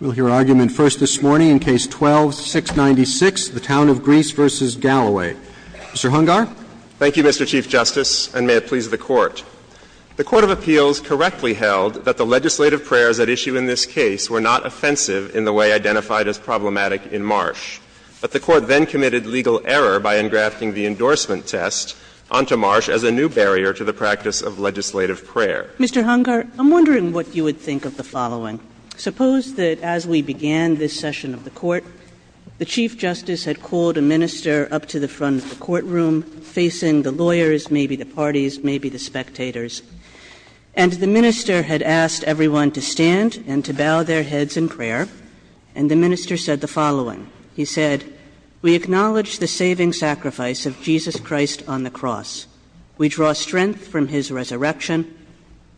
We'll hear argument first this morning in Case 12-696, the Town of Greece v. Galloway. Mr. Hungar. Thank you, Mr. Chief Justice, and may it please the Court. The Court of Appeals correctly held that the legislative prayers at issue in this case were not offensive in the way identified as problematic in Marsh, but the Court then committed legal error by engrafting the endorsement test onto Marsh as a new barrier to the practice of legislative prayer. Mr. Hungar, I'm wondering what you would think of the following. Suppose that as we began this session of the court, the Chief Justice had called a minister up to the front of the courtroom, facing the lawyers, maybe the parties, maybe the spectators, and the minister had asked everyone to stand and to bow their heads in prayer, and the minister said the following. He said, we acknowledge the saving sacrifice of Jesus Christ on the cross. We draw strength from his resurrection.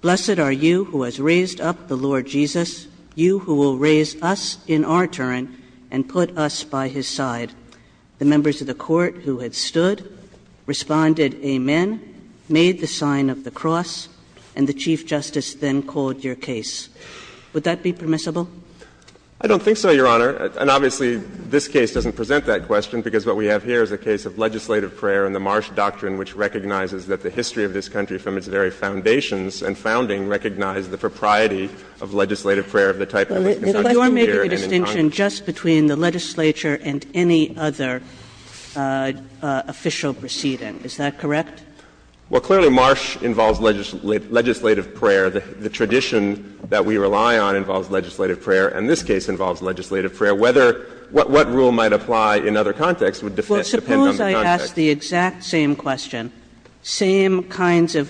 Blessed are you who has raised up the Lord Jesus, you who will raise us in our turn and put us by his side. The members of the court who had stood responded, amen, made the sign of the cross, and the Chief Justice then called your case. Would that be permissible? I don't think so, Your Honor. And obviously, this case doesn't present that question, because what we have here is a case of legislative prayer and the Marsh doctrine which recognizes that the history of this country from its very foundations and founding recognized the propriety of legislative prayer of the type that was constructed here and in time. Kagan. Kagan. The question is a distinction just between the legislature and any other official proceeding. Is that correct? Well, clearly Marsh involves legislative prayer. The tradition that we rely on involves legislative prayer, and this case involves legislative prayer. Whether what rule might apply in other contexts would defend the position. But suppose I ask the exact same question, same kinds of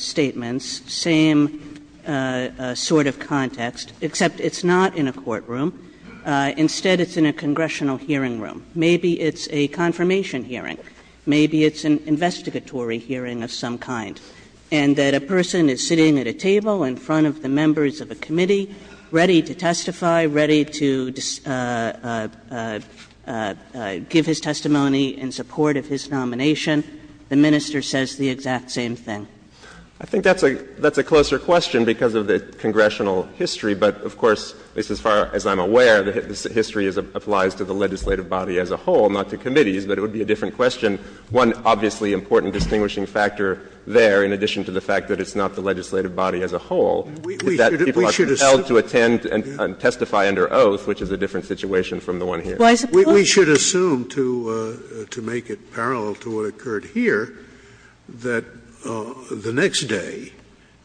statements, same sort of context, except it's not in a courtroom. Instead, it's in a congressional hearing room. Maybe it's a confirmation hearing. Maybe it's an investigatory hearing of some kind. And that a person is sitting at a table in front of the members of a committee ready to testify, ready to give his testimony in support of his nomination. The minister says the exact same thing. I think that's a closer question because of the congressional history. But, of course, at least as far as I'm aware, the history applies to the legislative body as a whole, not to committees, but it would be a different question. One obviously important distinguishing factor there, in addition to the fact that it's not the legislative body as a whole, is that people are compelled to attend and testify under oath, which is a different situation from the one here. Scalia, we should assume, to make it parallel to what occurred here, that the next day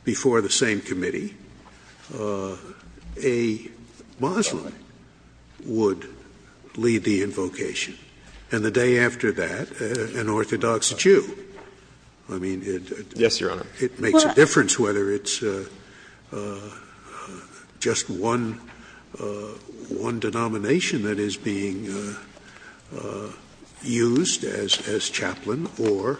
before the same committee, a Muslim would lead the invocation, and the day after that, an orthodox Jew. I mean, it makes a difference whether it's just one Jew or a Muslim. It's one denomination that is being used as chaplain or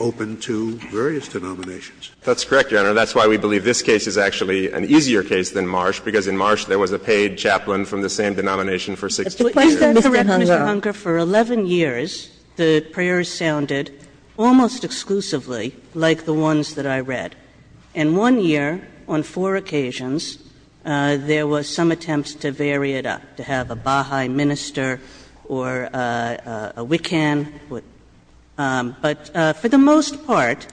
open to various denominations. That's correct, Your Honor. That's why we believe this case is actually an easier case than Marsh, because in Marsh there was a paid chaplain from the same denomination for 60 years. Is that correct, Mr. Hungar? For 11 years, the prayers sounded almost exclusively like the ones that I read. In one year, on four occasions, there was some attempts to vary it up, to have a Baha'i minister or a Wiccan. But for the most part,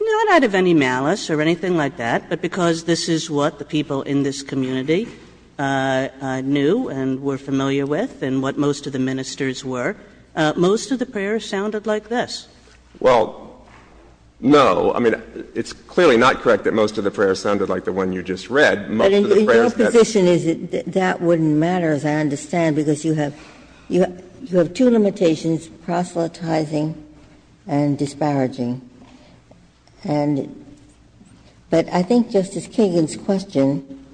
not out of any malice or anything like that, but because this is what the people in this community knew and were familiar with and what most of the ministers were, most of the prayers sounded like this. Well, no. I mean, it's clearly not correct that most of the prayers sounded like the one you just read. Most of the prayers that's the way it is. Ginsburg. But in your position, that wouldn't matter, as I understand, because you have two limitations, proselytizing and disparaging. And but I think Justice Kagan's question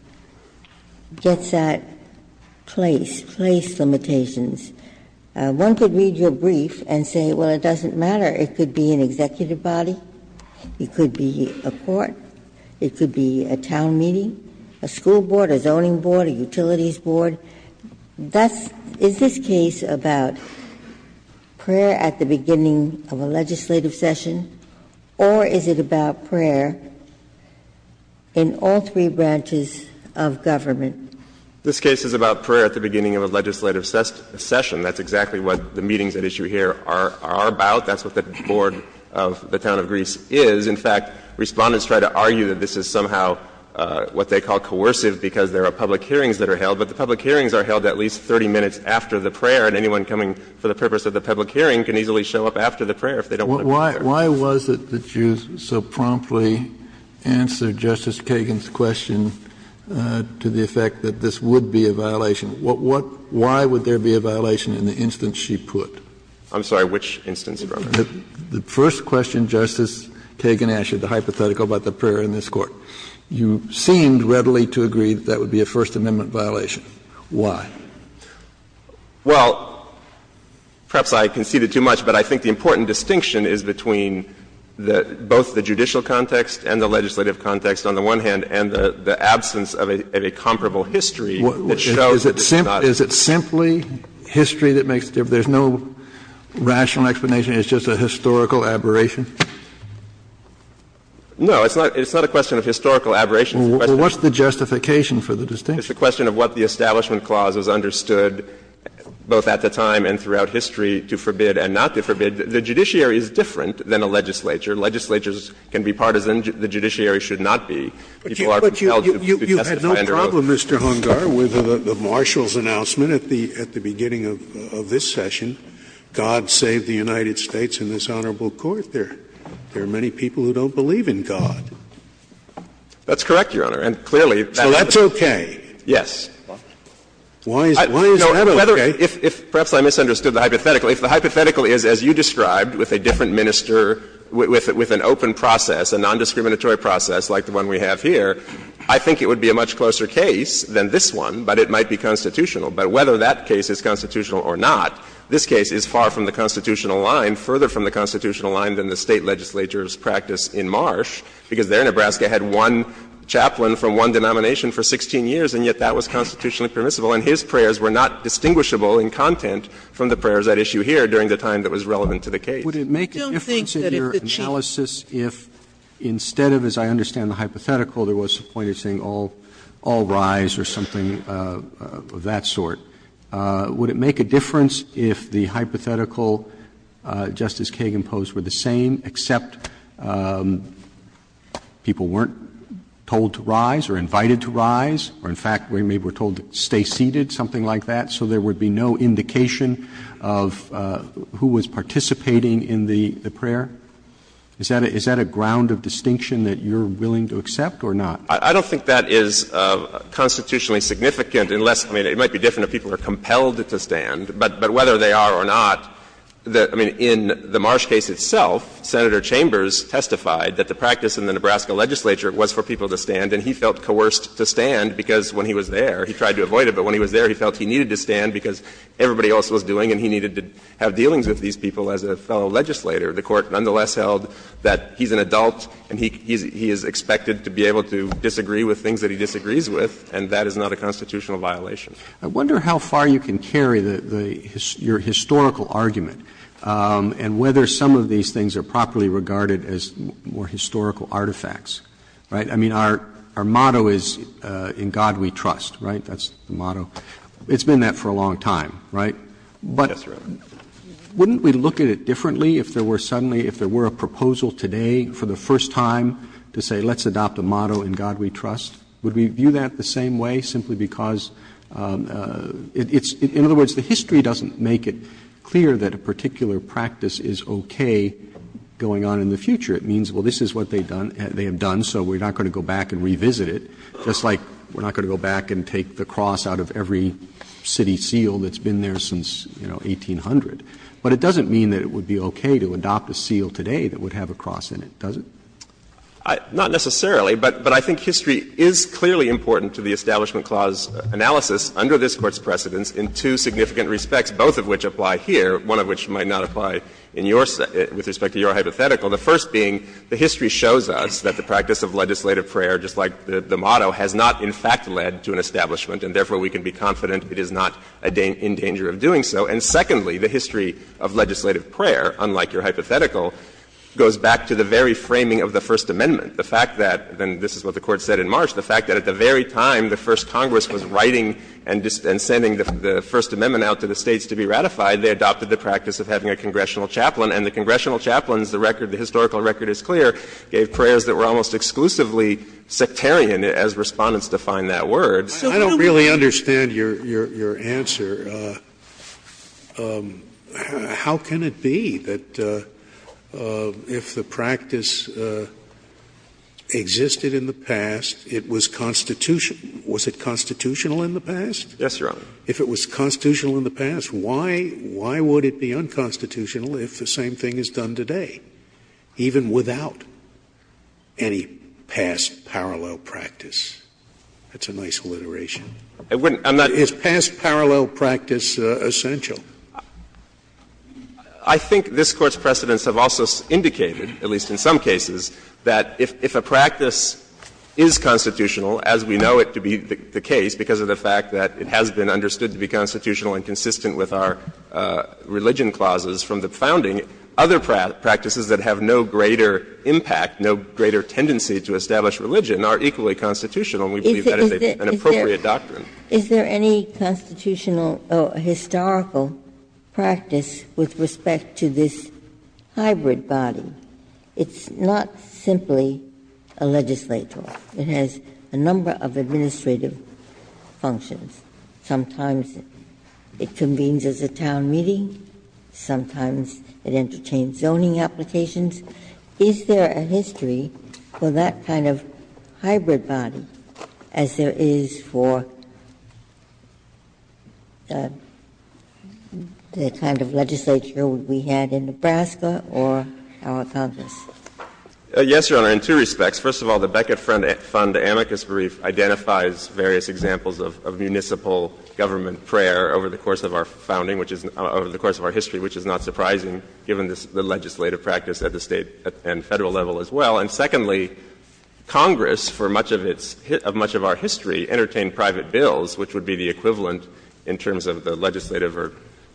gets at place, place limitations. One could read your brief and say, well, it doesn't matter. It could be an executive body. It could be a court. It could be a town meeting, a school board, a zoning board, a utilities board. That's — is this case about prayer at the beginning of a legislative session, or is it about prayer in all three branches of government? This case is about prayer at the beginning of a legislative session. That's exactly what the meetings at issue here are about. That's what the board of the town of Greece is. In fact, Respondents try to argue that this is somehow what they call coercive because there are public hearings that are held, but the public hearings are held at least 30 minutes after the prayer, and anyone coming for the purpose of the public Why was it that you so promptly answered Justice Kagan's question to the effect that this would be a violation? What — why would there be a violation in the instance she put? I'm sorry, which instance, Your Honor? The first question Justice Kagan asked you, the hypothetical about the prayer in this Court. You seemed readily to agree that that would be a First Amendment violation. Why? Well, perhaps I conceded too much, but I think the important distinction is that the distinction is between the — both the judicial context and the legislative context, on the one hand, and the absence of a comparable history that shows that this is not a First Amendment violation. Is it simply history that makes the difference? There's no rational explanation? It's just a historical aberration? No. It's not a question of historical aberration. It's a question of what the establishment clause was understood, both at the time and throughout history, to forbid and not to forbid. The judiciary is different than a legislature. Legislatures can be partisan. The judiciary should not be, if you are compelled to testify under oath. But you've had no problem, Mr. Hungar, with the Marshal's announcement at the beginning of this session, God save the United States and this Honorable Court, there are many people who don't believe in God. That's correct, Your Honor, and clearly that is the case. So that's okay? Yes. Why is that okay? If perhaps I misunderstood the hypothetical. If the hypothetical is, as you described, with a different minister, with an open process, a nondiscriminatory process like the one we have here, I think it would be a much closer case than this one, but it might be constitutional. But whether that case is constitutional or not, this case is far from the constitutional line, further from the constitutional line than the State legislature's practice in Marsh, because there Nebraska had one chaplain from one denomination for 16 years, and yet that was constitutionally permissible. And his prayers were not distinguishable in content from the prayers at issue here during the time that was relevant to the case. Would it make a difference in your analysis if, instead of, as I understand the hypothetical, there was a point of saying all rise or something of that sort, would it make a difference if the hypothetical, Justice Kagan posed, were the same, except people weren't told to rise or invited to rise, or in fact, maybe were told stay seated, something like that, so there would be no indication of who was participating in the prayer? Is that a ground of distinction that you're willing to accept or not? I don't think that is constitutionally significant unless, I mean, it might be different if people are compelled to stand. But whether they are or not, I mean, in the Marsh case itself, Senator Chambers And he felt coerced to stand because when he was there, he tried to avoid it, but when he was there, he felt he needed to stand because everybody else was doing and he needed to have dealings with these people as a fellow legislator. The Court nonetheless held that he's an adult and he is expected to be able to disagree with things that he disagrees with, and that is not a constitutional violation. I wonder how far you can carry your historical argument and whether some of these things are properly regarded as more historical artifacts, right? Roberts I mean, our motto is, in God we trust, right? That's the motto. It's been that for a long time, right? But wouldn't we look at it differently if there were suddenly, if there were a proposal today for the first time to say let's adopt a motto, in God we trust? Would we view that the same way simply because it's – in other words, the history doesn't make it clear that a particular practice is okay going on in the future. It means, well, this is what they have done, so we're not going to go back and revisit it, just like we're not going to go back and take the cross out of every city seal that's been there since, you know, 1800. But it doesn't mean that it would be okay to adopt a seal today that would have a cross in it, does it? Shanmugam Not necessarily, but I think history is clearly important to the Establishment Clause analysis under this Court's precedence in two significant respects, both of which apply here, one of which might not apply in your – with respect to your hypothetical, the first being the history shows us that the practice of legislative prayer, just like the motto, has not in fact led to an establishment, and therefore we can be confident it is not in danger of doing so. And secondly, the history of legislative prayer, unlike your hypothetical, goes back to the very framing of the First Amendment, the fact that – and this is what the Court said in March – the fact that at the very time the First Congress was writing and sending the First Amendment out to the States to be ratified, they adopted the practice of having a congressional chaplain, and the congressional chaplains, the record, the historical record is clear, gave prayers that were almost exclusively sectarian, as Respondents define that word. Scalia I don't really understand your answer. How can it be that if the practice existed in the past, it was constitutional – was it constitutional in the past? Shanmugam Yes, Your Honor. Scalia If it was constitutional in the past, why would it be unconstitutional if the same thing is done today, even without any past parallel practice? That's a nice alliteration. Shanmugam I wouldn't – I'm not – Scalia Is past parallel practice essential? Shanmugam I think this Court's precedents have also indicated, at least in some cases, that if a practice is constitutional, as we know it to be the case, because of the fact that it has been understood to be constitutional and consistent with our religion clauses from the founding, other practices that have no greater impact, no greater tendency to establish religion are equally constitutional, and we believe that is an appropriate doctrine. Ginsburg Is there any constitutional or historical practice with respect to this hybrid body? It's not simply a legislature. It has a number of administrative functions. Sometimes it convenes as a town meeting. Sometimes it entertains zoning applications. Is there a history for that kind of hybrid body as there is for the kind of legislature we had in Nebraska or our Congress? Shanmugam Yes, Your Honor, in two respects. First of all, the Beckett Fund amicus brief identifies various examples of municipal government prayer over the course of our founding, which is – over the course of our history, which is not surprising given the legislative practice at the State and Federal level as well. And secondly, Congress, for much of its – of much of our history, entertained private bills, which would be the equivalent in terms of the legislative or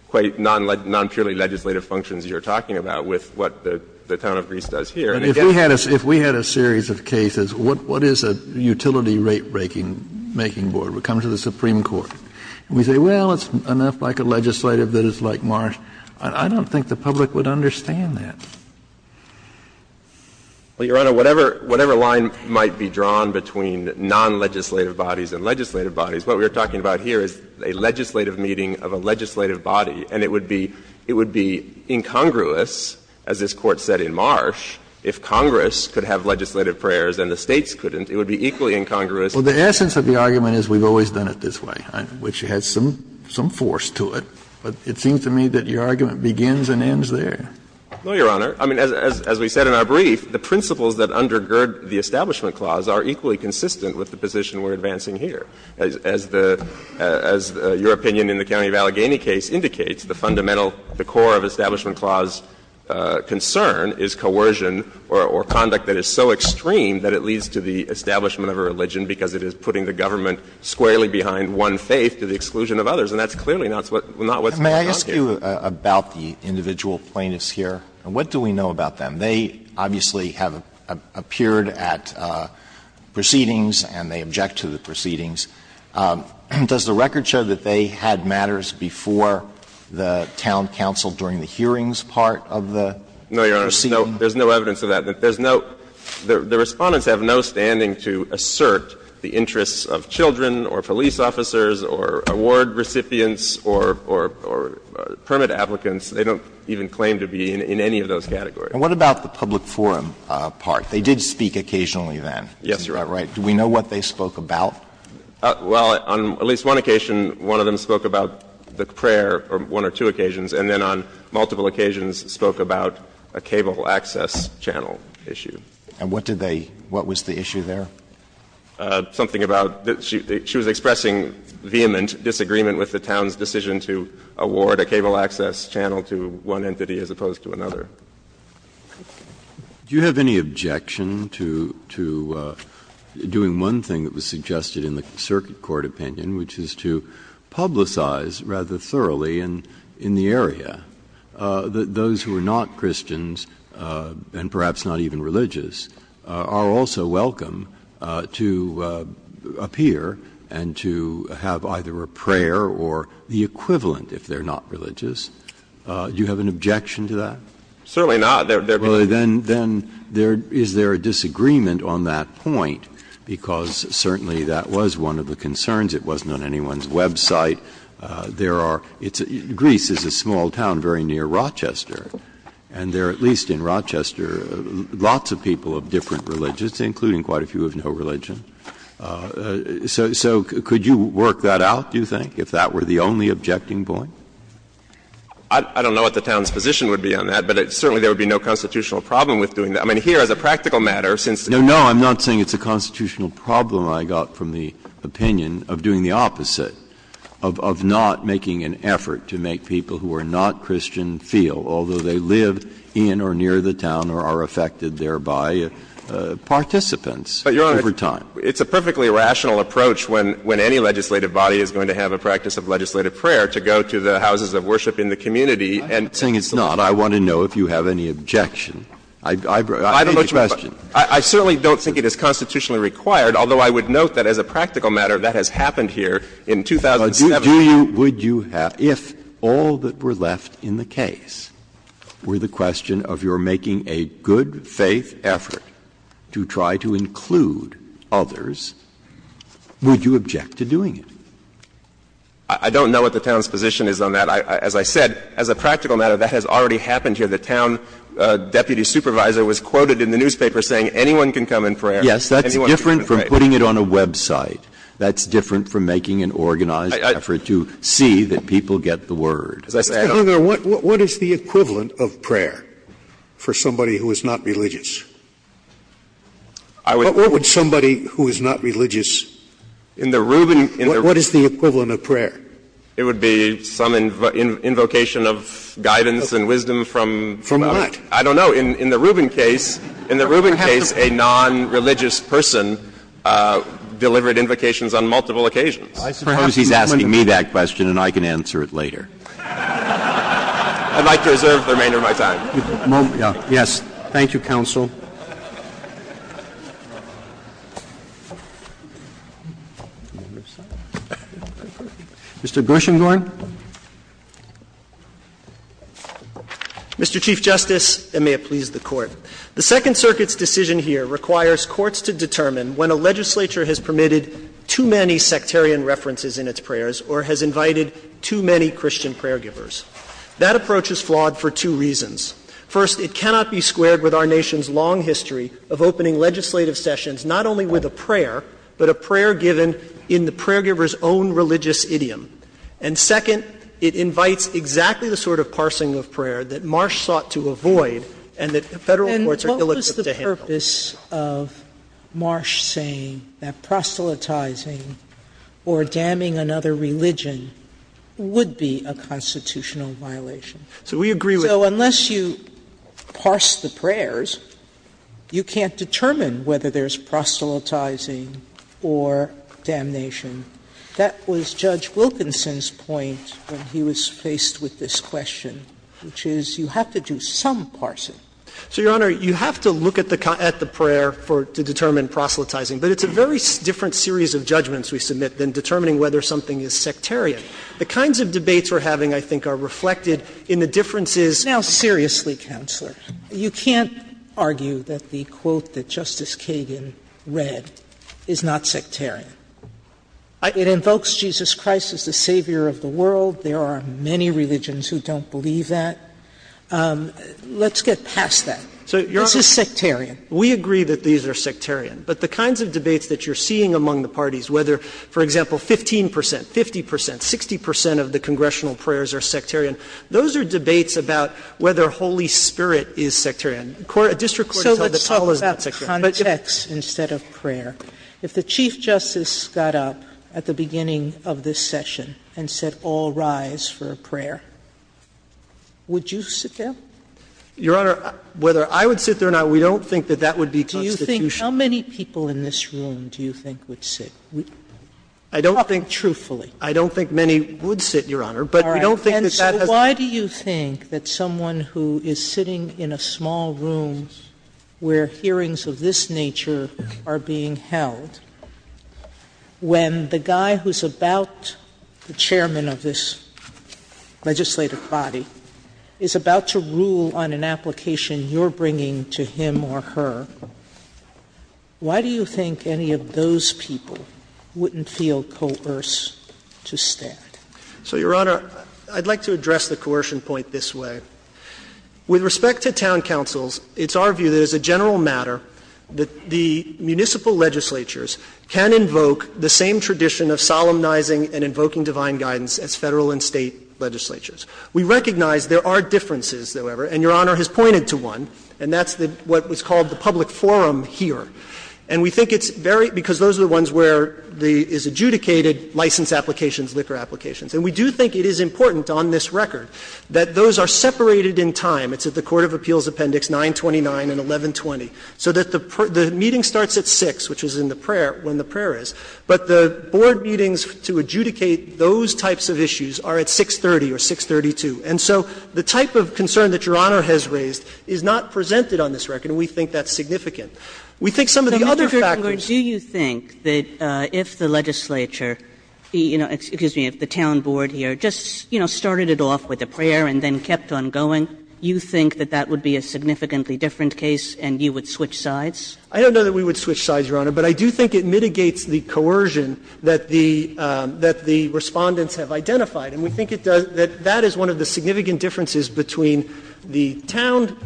quite non-purely legislative functions you're talking about with what the town of Greece does here. Kennedy If we had a series of cases, what is a utility rate-making board? We come to the Supreme Court. We say, well, it's enough like a legislative that it's like Marsh. I don't think the public would understand that. Shanmugam Well, Your Honor, whatever line might be drawn between non-legislative bodies and legislative bodies, what we are talking about here is a legislative meeting of a legislative body, and it would be – it would be incongruous, as this Court said in Marsh, if Congress could have legislative prayers and the States couldn't. It would be equally incongruous. Kennedy Well, the essence of the argument is we've always done it this way, which has some force to it. But it seems to me that your argument begins and ends there. Shanmugam No, Your Honor. I mean, as we said in our brief, the principles that undergird the Establishment Clause are equally consistent with the position we're advancing here. As the – as your opinion in the County of Allegheny case indicates, the fundamental – the core of Establishment Clause concern is coercion or conduct that is so extreme that it leads to the establishment of a religion because it is putting the government squarely behind one faith to the exclusion of others. And that's clearly not what's being argued. Alito May I ask you about the individual plaintiffs here? What do we know about them? They obviously have appeared at proceedings and they object to the proceedings. Does the record show that they had matters before the town council during the hearings part of the proceedings? Shanmugam No, Your Honor. There's no evidence of that. There's no – the Respondents have no standing to assert the interests of children or police officers or award recipients or permit applicants. They don't even claim to be in any of those categories. Alito May And what about the public forum part? They did speak occasionally then. Shanmugam Yes, Your Honor. Alito May Is that right? Do we know what they spoke about? Shanmugam Well, on at least one occasion, one of them spoke about the prayer on one or two occasions, and then on multiple occasions spoke about a cable access channel issue. Alito May And what did they – what was the issue there? Shanmugam Something about – she was expressing vehement disagreement with the town's decision to award a cable access channel to one entity as opposed to another. Breyer Do you have any objection to doing one thing that was suggested in the circuit court opinion, which is to publicize rather thoroughly in the area that those who are not Christians and perhaps not even religious are also welcome to appear and to have either a prayer or the equivalent if they're not religious? Do you have an objection to that? Shanmugam Certainly not. There are people who are not religious. Breyer Well, then, then, there – is there a disagreement on that point? Because certainly that was one of the concerns. It wasn't on anyone's website. There are – it's – Greece is a small town very near Rochester, and there are at least in Rochester lots of people of different religions, including quite a few of no religion. So could you work that out, do you think, if that were the only objecting point? Shanmugam I don't know what the town's position would be on that, but certainly there would be no constitutional problem with doing that. I mean, here, as a practical matter, since the Court of Appeals has said it's a constitutional problem, I got from the opinion of doing the opposite, of not making an effort to make people who are not Christian feel, although they live in or near the town or are affected thereby, participants over time. Breyer But, Your Honor, it's a perfectly rational approach when any legislative body is going to have a practice of legislative prayer to go to the houses of worship in the community and to the people. Breyer I'm not saying it's not. I want to know if you have any objection. I've made the question. Shanmugam I certainly don't think it is constitutionally required, although I would note that as a practical matter that has happened here in 2007. Breyer But do you – would you have – if all that were left in the case were the question of your making a good-faith effort to try to include others, would you object to doing it? Shanmugam I don't know what the town's position is on that. As I said, as a practical matter, that has already happened here. The town deputy supervisor was quoted in the newspaper saying anyone can come and pray. Breyer Yes, that's different from putting it on a website. That's different from making an organized effort to see that people get the word. Scalia As I said, Your Honor, what is the equivalent of prayer for somebody who is not religious? What would somebody who is not religious in the rubric of prayer do? What is the equivalent of prayer? Shanmugam It would be some invocation of guidance and wisdom from the other. Scalia From what? Shanmugam I don't know. In the Rubin case, in the Rubin case, a non-religious person delivered invocations on multiple occasions. Roberts I suppose he's asking me that question and I can answer it later. Shanmugam I'd like to reserve the remainder of my time. Roberts Yes. Thank you, counsel. Mr. Gershengorn. Gershengorn Mr. Chief Justice, and may it please the Court. The Second Circuit's decision here requires courts to determine when a legislature has permitted too many sectarian references in its prayers or has invited too many Christian prayer givers. That approach is flawed for two reasons. First, it cannot be squared with our nation's long history of opening legislative sessions not only with a prayer, but a prayer given in the prayer giver's own religious idiom. And second, it invites exactly the sort of parsing of prayer that Marsh sought to avoid and that Federal courts are ill-equipped to handle. Sotomayor And what was the purpose of Marsh saying that proselytizing or damning another religion would be a constitutional violation? Gershengorn So we agree with that. Sotomayor So unless you parse the prayers, you can't determine whether there's proselytizing or damnation. That was Judge Wilkinson's point when he was faced with this question, which is you have to do some parsing. Gershengorn So, Your Honor, you have to look at the prayer for to determine proselytizing, but it's a very different series of judgments we submit than determining whether something is sectarian. The kinds of debates we're having, I think, are reflected in the differences Sotomayor Now, seriously, Counselor, you can't argue that the quote that Justice Kagan read is not sectarian. It invokes Jesus Christ as the savior of the world. There are many religions who don't believe that. Let's get past that. This is sectarian. Gershengorn So, Your Honor, we agree that these are sectarian, but the kinds of debates that you're seeing among the parties, whether, for example, 15 percent, 50 percent, 60 percent of the congressional prayers are sectarian, those are debates about whether Holy Spirit is sectarian. A district court has held that all is not sectarian. Sotomayor So let's talk about context instead of prayer. If the Chief Justice got up at the beginning of this session and said, all rise for a prayer, would you sit down? Gershengorn Your Honor, whether I would sit there or not, we don't think that that would be constitutional. Sotomayor Do you think how many people in this room do you think would sit? Gershengorn I don't think truthfully. I don't think many would sit, Your Honor, but we don't think that that has to do with Sotomayor All right. And so why do you think that someone who is sitting in a small room where hearings of this nature are being held, when the guy who is about the chairman of this legislative body is about to rule on an application you're bringing to him or her, why do you think any of those people wouldn't feel coerced to stand? Gershengorn So, Your Honor, I'd like to address the coercion point this way. With respect to town councils, it's our view that as a general matter that the municipal legislatures can invoke the same tradition of solemnizing and invoking divine guidance as Federal and State legislatures. We recognize there are differences, however, and Your Honor has pointed to one, and that's what was called the public forum here. And we think it's very – because those are the ones where the – is adjudicated license applications, liquor applications. And we do think it is important on this record that those are separated in time. It's at the Court of Appeals Appendix 929 and 1120. So that the meeting starts at 6, which is in the prayer, when the prayer is, but the board meetings to adjudicate those types of issues are at 630 or 632. And so the type of concern that Your Honor has raised is not presented on this record, and we think that's significant. We think some of the other factors don't. Kagan, do you think that if the legislature, you know, excuse me, if the town board here just, you know, started it off with a prayer and then kept on going, you think that that would be a significantly different case and you would switch sides? I don't know that we would switch sides, Your Honor, but I do think it mitigates the coercion that the – that the Respondents have identified, and we think it does – that that is one of the significant differences between the town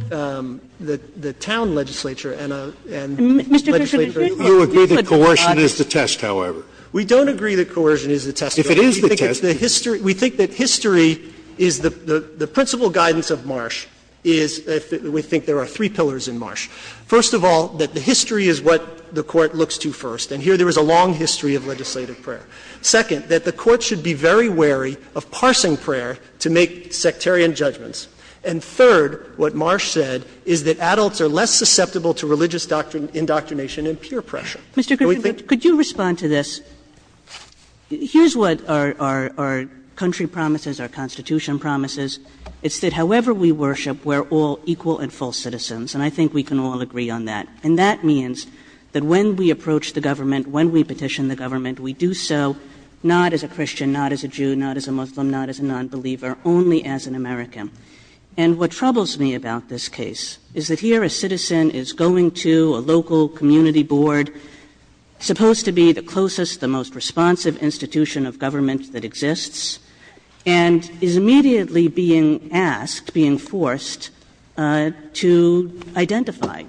– the town legislature and a – and legislative prayer. Mr. Kagan, do you agree that coercion is the test, however? We don't agree that coercion is the test, Your Honor. If it is the test, then? We think that history is the principle guidance of Marsh is – we think there are three pillars in Marsh. First of all, that the history is what the Court looks to first, and here there was a long history of legislative prayer. Second, that the Court should be very wary of parsing prayer to make sectarian judgments. And third, what Marsh said is that adults are less susceptible to religious indoctrination and peer pressure. Mr. Griffin, could you respond to this? Here's what our country promises, our Constitution promises. It's that however we worship, we're all equal and full citizens, and I think we can all agree on that. And that means that when we approach the government, when we petition the government, we do so not as a Christian, not as a Jew, not as a Muslim, not as a nonbeliever, only as an American. And what troubles me about this case is that here a citizen is going to a local community board, supposed to be the closest, the most responsive institution of government that exists, and is immediately being asked, being forced to identify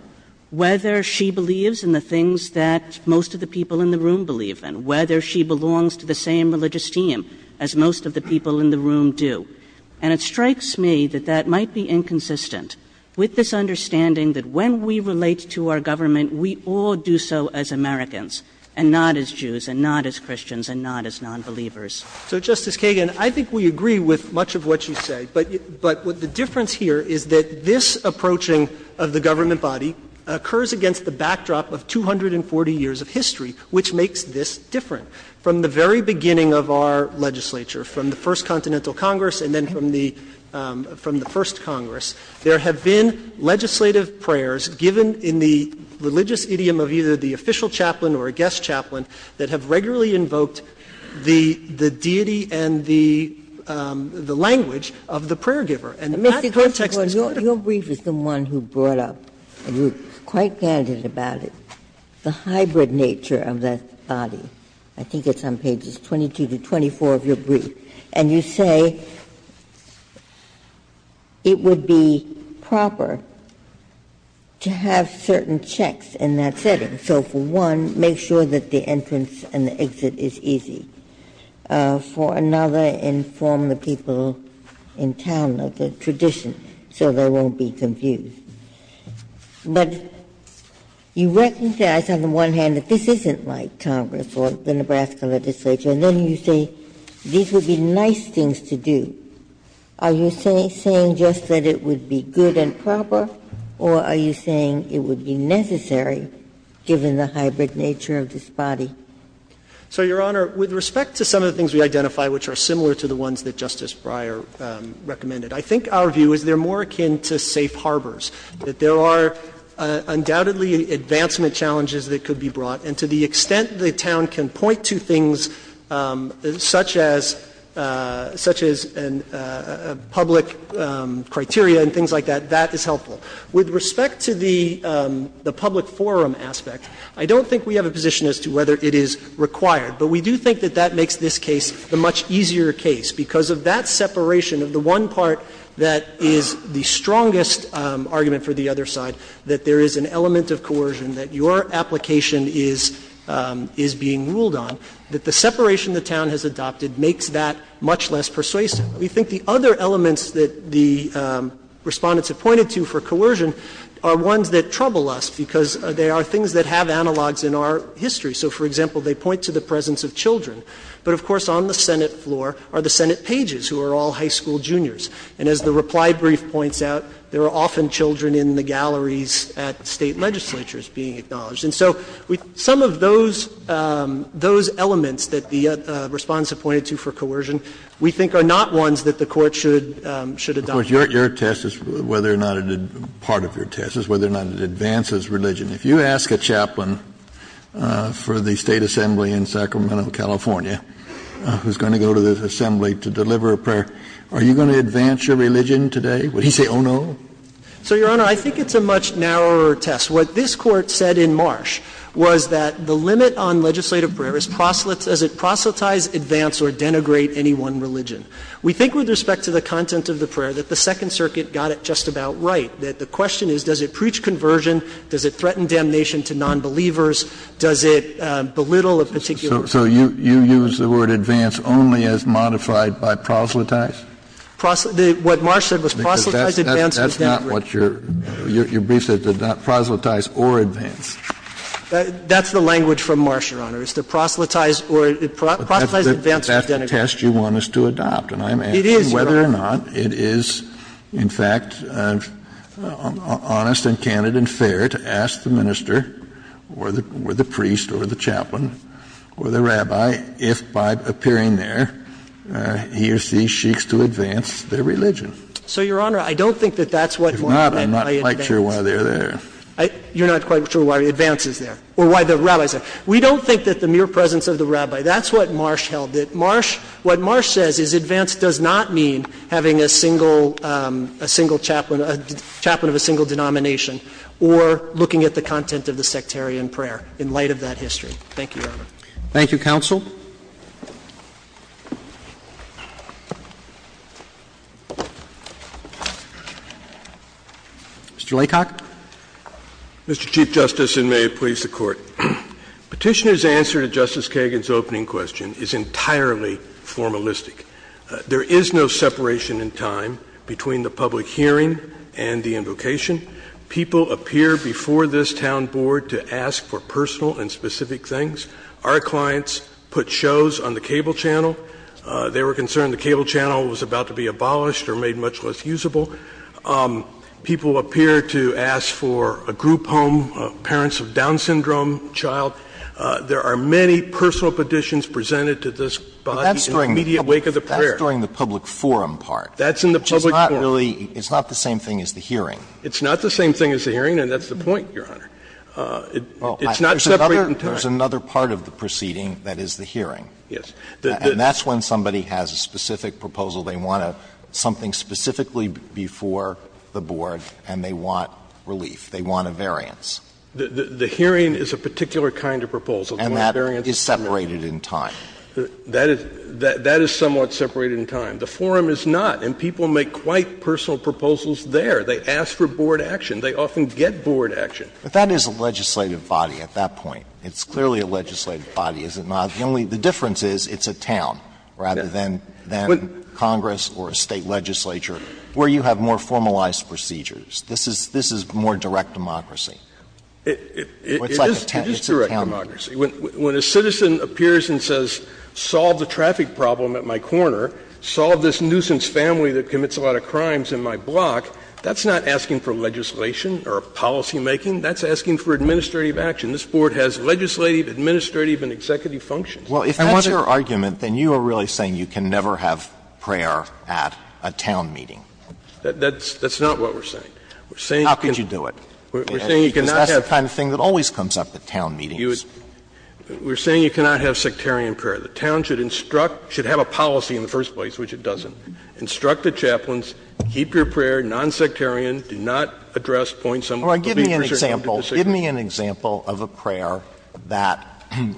whether she believes in the things that most of the people in the room believe in, whether she belongs to the same religious team as most of the people in the room do. And it strikes me that that might be inconsistent with this understanding that when we relate to our government, we all do so as Americans and not as Jews and not as Christians and not as nonbelievers. So, Justice Kagan, I think we agree with much of what you say, but the difference here is that this approaching of the government body occurs against the backdrop of 240 years of history, which makes this different. From the very beginning of our legislature, from the First Continental Congress and then from the First Congress, there have been legislative prayers given in the religious idiom of either the official chaplain or a guest chaplain that have regularly invoked the deity and the language of the prayer giver. And that context is part of it. Ginsburg, your brief is the one who brought up, and you were quite candid about it, the hybrid nature of that body. I think it's on pages 22 to 24 of your brief. And you say it would be proper to have certain checks in that setting. So, for one, make sure that the entrance and the exit is easy. For another, inform the people in town of the tradition so they won't be confused. But you recognize on the one hand that this isn't like Congress or the Nebraska legislature, and then you say these would be nice things to do. Are you saying just that it would be good and proper, or are you saying it would be necessary, given the hybrid nature of this body? So, Your Honor, with respect to some of the things we identify which are similar to the ones that Justice Breyer recommended, I think our view is they're more akin to safe harbors. That there are undoubtedly advancement challenges that could be brought, and to the extent the town can point to things such as public criteria and things like that, that is helpful. With respect to the public forum aspect, I don't think we have a position as to whether it is required. But we do think that that makes this case the much easier case, because of that the strongest argument for the other side, that there is an element of coercion that your application is being ruled on, that the separation the town has adopted makes that much less persuasive. We think the other elements that the Respondents have pointed to for coercion are ones that trouble us, because they are things that have analogs in our history. So, for example, they point to the presence of children, but, of course, on the Senate floor are the Senate pages, who are all high school juniors. And as the reply brief points out, there are often children in the galleries at State legislatures being acknowledged. And so some of those elements that the Respondents have pointed to for coercion we think are not ones that the Court should adopt. Kennedy, of course, your test is whether or not it advances religion. If you ask a chaplain for the State assembly in Sacramento, California, who is going to go to the assembly to deliver a prayer, are you going to advance your religion today? Would he say, oh, no? So, Your Honor, I think it's a much narrower test. What this Court said in Marsh was that the limit on legislative prayer is proselytize advance or denigrate any one religion. We think with respect to the content of the prayer that the Second Circuit got it just about right, that the question is, does it preach conversion, does it threaten damnation to nonbelievers, does it belittle a particular religion? So you use the word advance only as modified by proselytize? What Marsh said was proselytize advance or denigrate. That's not what your brief said, proselytize or advance. That's the language from Marsh, Your Honor, is to proselytize or to proselytize advance or denigrate. But that's the test you want us to adopt, and I'm asking whether or not it is, in fact, honest and candid and fair to ask the minister or the priest or the chaplain or the rabbi if, by appearing there, he or she seeks to advance their religion. So, Your Honor, I don't think that that's what we meant by advance. If not, I'm not quite sure why they're there. You're not quite sure why advance is there or why the rabbi is there. We don't think that the mere presence of the rabbi, that's what Marsh held. Marsh, what Marsh says is advance does not mean having a single chaplain, a chaplain of a single denomination, or looking at the content of the sectarian prayer in light of that history. Thank you, Your Honor. Thank you, counsel. Mr. Laycock. Mr. Chief Justice, and may it please the Court. Petitioner's answer to Justice Kagan's opening question is entirely formalistic. There is no separation in time between the public hearing and the invocation. People appear before this town board to ask for personal and specific things. Our clients put shows on the cable channel. They were concerned the cable channel was about to be abolished or made much less usable. People appear to ask for a group home, parents of Down syndrome, child. There are many personal petitions presented to this body in the immediate wake of the prayer. That's during the public forum part, which is not really the same thing as the hearing. It's not the same thing as the hearing, and that's the point, Your Honor. It's not separate in time. There's another part of the proceeding that is the hearing. Yes. And that's when somebody has a specific proposal. They want something specifically before the board, and they want relief. They want a variance. The hearing is a particular kind of proposal. And that is separated in time. That is somewhat separated in time. The forum is not, and people make quite personal proposals there. They ask for board action. They often get board action. But that is a legislative body at that point. It's clearly a legislative body, is it not? The only the difference is it's a town rather than Congress or a State legislature where you have more formalized procedures. This is more direct democracy. It is direct democracy. When a citizen appears and says, solve the traffic problem at my corner, solve this problem, that's not asking for legislation or policymaking. That's asking for administrative action. This Board has legislative, administrative, and executive functions. Alito, if that's your argument, then you are really saying you can never have prayer at a town meeting. That's not what we're saying. We're saying you cannot have a prayer at a town meeting. We're saying you cannot have sectarian prayer. The town should instruct, should have a policy in the first place, which it doesn't. Instruct the chaplains, keep your prayer nonsectarian, do not address points on the leadership of the decision. Sotomayor, give me an example of a prayer that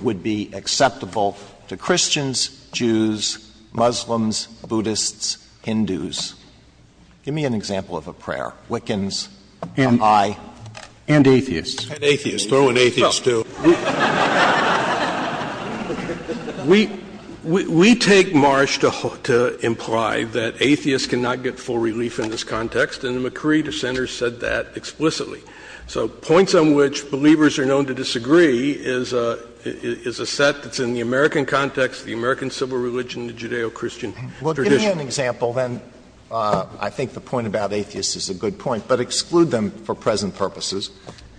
would be acceptable to Christians, Jews, Muslims, Buddhists, Hindus. Give me an example of a prayer, Wiccans, Popeye. And atheists. And atheists. Throw in atheists, too. We take Marsh to imply that atheists cannot get full relief in this context, and the McCree dissenters said that explicitly. So points on which believers are known to disagree is a set that's in the American context, the American civil religion, the Judeo-Christian tradition. Well, give me an example, then. I think the point about atheists is a good point, but exclude them for present purposes,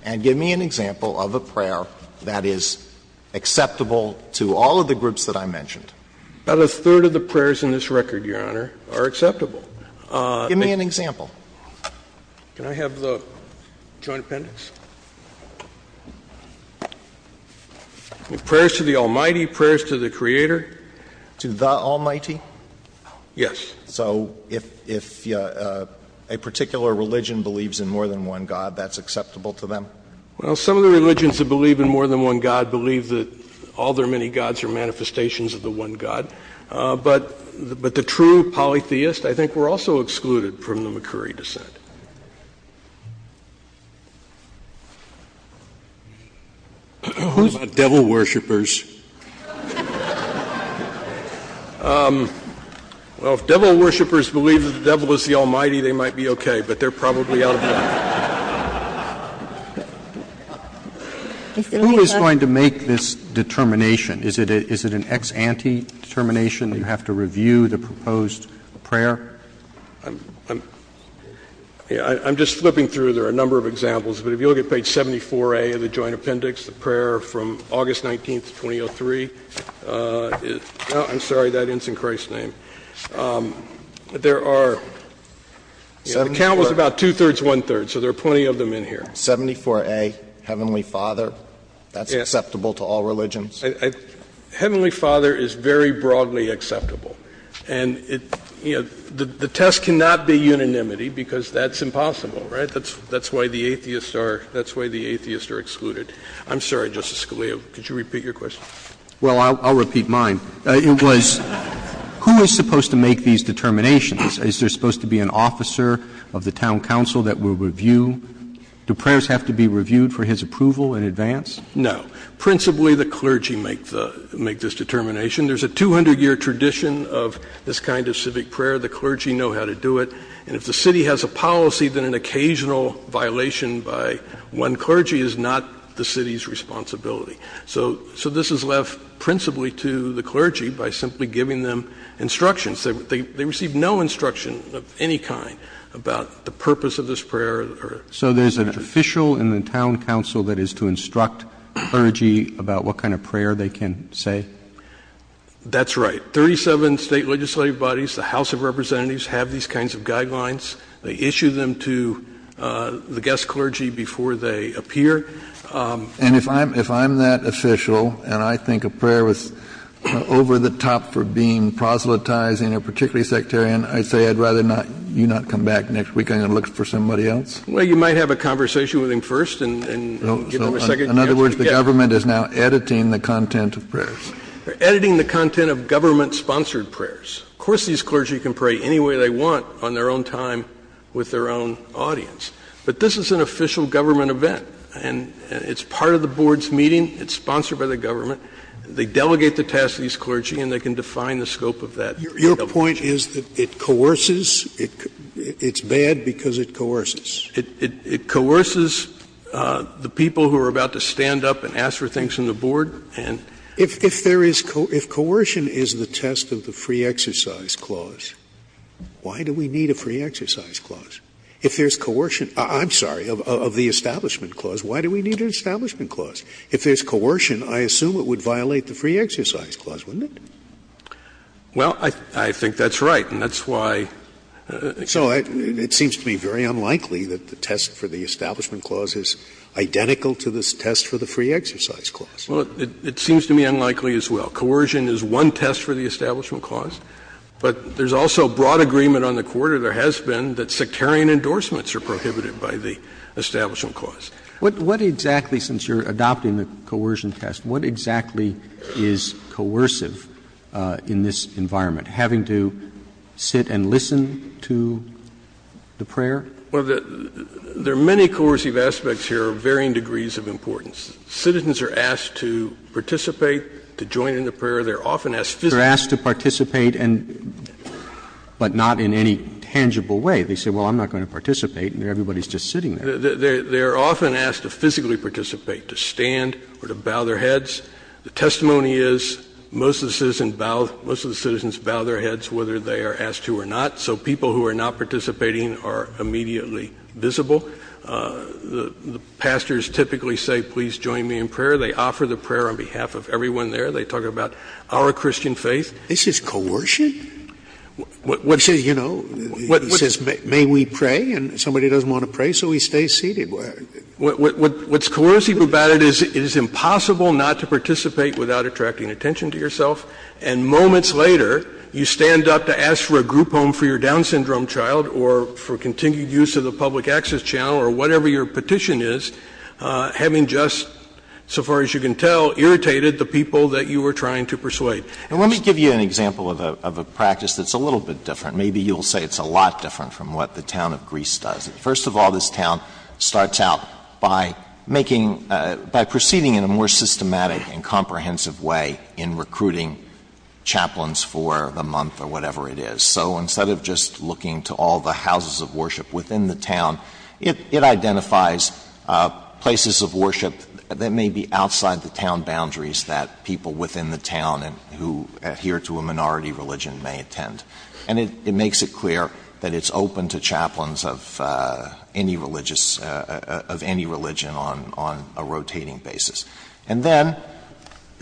and give me an example of a prayer that is acceptable to all of the groups that I mentioned. About a third of the prayers in this record, Your Honor, are acceptable. Give me an example. Can I have the Joint Appendix? Prayers to the Almighty, prayers to the Creator. To the Almighty? Yes. So if a particular religion believes in more than one God, that's acceptable to them? Well, some of the religions that believe in more than one God believe that all their many gods are manifestations of the one God. But the true polytheists, I think, were also excluded from the McCree dissent. Who's a devil worshiper? Well, if devil worshipers believe that the devil is the Almighty, they might be okay. But they're probably out of the picture. Who is going to make this determination? Is it an ex ante determination that you have to review the proposed prayer? I'm just flipping through. There are a number of examples. But if you look at page 74A of the Joint Appendix, the prayer from August 19th, 2003, I'm sorry, that ends in Christ's name. There are, the count was about two-thirds, one-third, so there are plenty of them in here. 74A, Heavenly Father, that's acceptable to all religions? Heavenly Father is very broadly acceptable. And it, you know, the test cannot be unanimity because that's impossible, right? That's why the atheists are excluded. I'm sorry, Justice Scalia, could you repeat your question? Well, I'll repeat mine. It was who is supposed to make these determinations? Is there supposed to be an officer of the town council that will review? Do prayers have to be reviewed for his approval in advance? No. Principally, the clergy make this determination. There's a 200-year tradition of this kind of civic prayer. The clergy know how to do it. And if the city has a policy, then an occasional violation by one clergy is not the city's responsibility. So this is left principally to the clergy by simply giving them instructions. They receive no instruction of any kind about the purpose of this prayer. So there's an official in the town council that is to instruct clergy about what kind of prayer they can say? That's right. 37 state legislative bodies, the House of Representatives, have these kinds of guidelines. They issue them to the guest clergy before they appear. And if I'm that official, and I think a prayer was over the top for being proselytizing, or particularly sectarian, I'd say I'd rather you not come back next weekend and look for somebody else? Well, you might have a conversation with him first and give him a second chance. In other words, the government is now editing the content of prayers. They're editing the content of government-sponsored prayers. Of course, these clergy can pray any way they want on their own time with their own audience. But this is an official government event. And it's part of the board's meeting. It's sponsored by the government. They delegate the task to these clergy, and they can define the scope of that. Your point is that it coerces? It's bad because it coerces. It coerces the people who are about to stand up and ask for things from the board and- If there is coercion, if coercion is the test of the free exercise clause, why do we need a free exercise clause? If there's coercion of the Establishment Clause, why do we need an Establishment Clause? If there's coercion, I assume it would violate the free exercise clause, wouldn't it? Well, I think that's right, and that's why- So it seems to me very unlikely that the test for the Establishment Clause is identical to the test for the free exercise clause. Well, it seems to me unlikely as well. Coercion is one test for the Establishment Clause, but there's also broad agreement on the quarter. There has been that sectarian endorsements are prohibited by the Establishment Clause. What exactly, since you're adopting the coercion test, what exactly is coercive in this environment, having to sit and listen to the prayer? Well, there are many coercive aspects here of varying degrees of importance. Citizens are asked to participate, to join in the prayer. They're often asked physically- They're asked to participate and – but not in any tangible way. They say, well, I'm not going to participate, and everybody's just sitting there. They're often asked to physically participate, to stand or to bow their heads. The testimony is most of the citizens bow their heads whether they are asked to or not. So people who are not participating are immediately visible. The pastors typically say, please join me in prayer. They offer the prayer on behalf of everyone there. They talk about our Christian faith. This is coercion? What's – He says, you know, he says, may we pray, and somebody doesn't want to pray, so he stays seated. What's coercive about it is it is impossible not to participate without attracting attention to yourself, and moments later, you stand up to ask for a group home for your Down syndrome child or for continued use of the public access channel or whatever your petition is, having just, so far as you can tell, irritated the people that you were trying to persuade. And let me give you an example of a practice that's a little bit different. Maybe you'll say it's a lot different from what the town of Greece does. First of all, this town starts out by making – by proceeding in a more systematic and comprehensive way in recruiting chaplains for the month or whatever it is. So instead of just looking to all the houses of worship within the town, it identifies places of worship that may be outside the town boundaries that people within the town who adhere to a minority religion may attend. And it makes it clear that it's open to chaplains of any religious – of any religion on a rotating basis. And then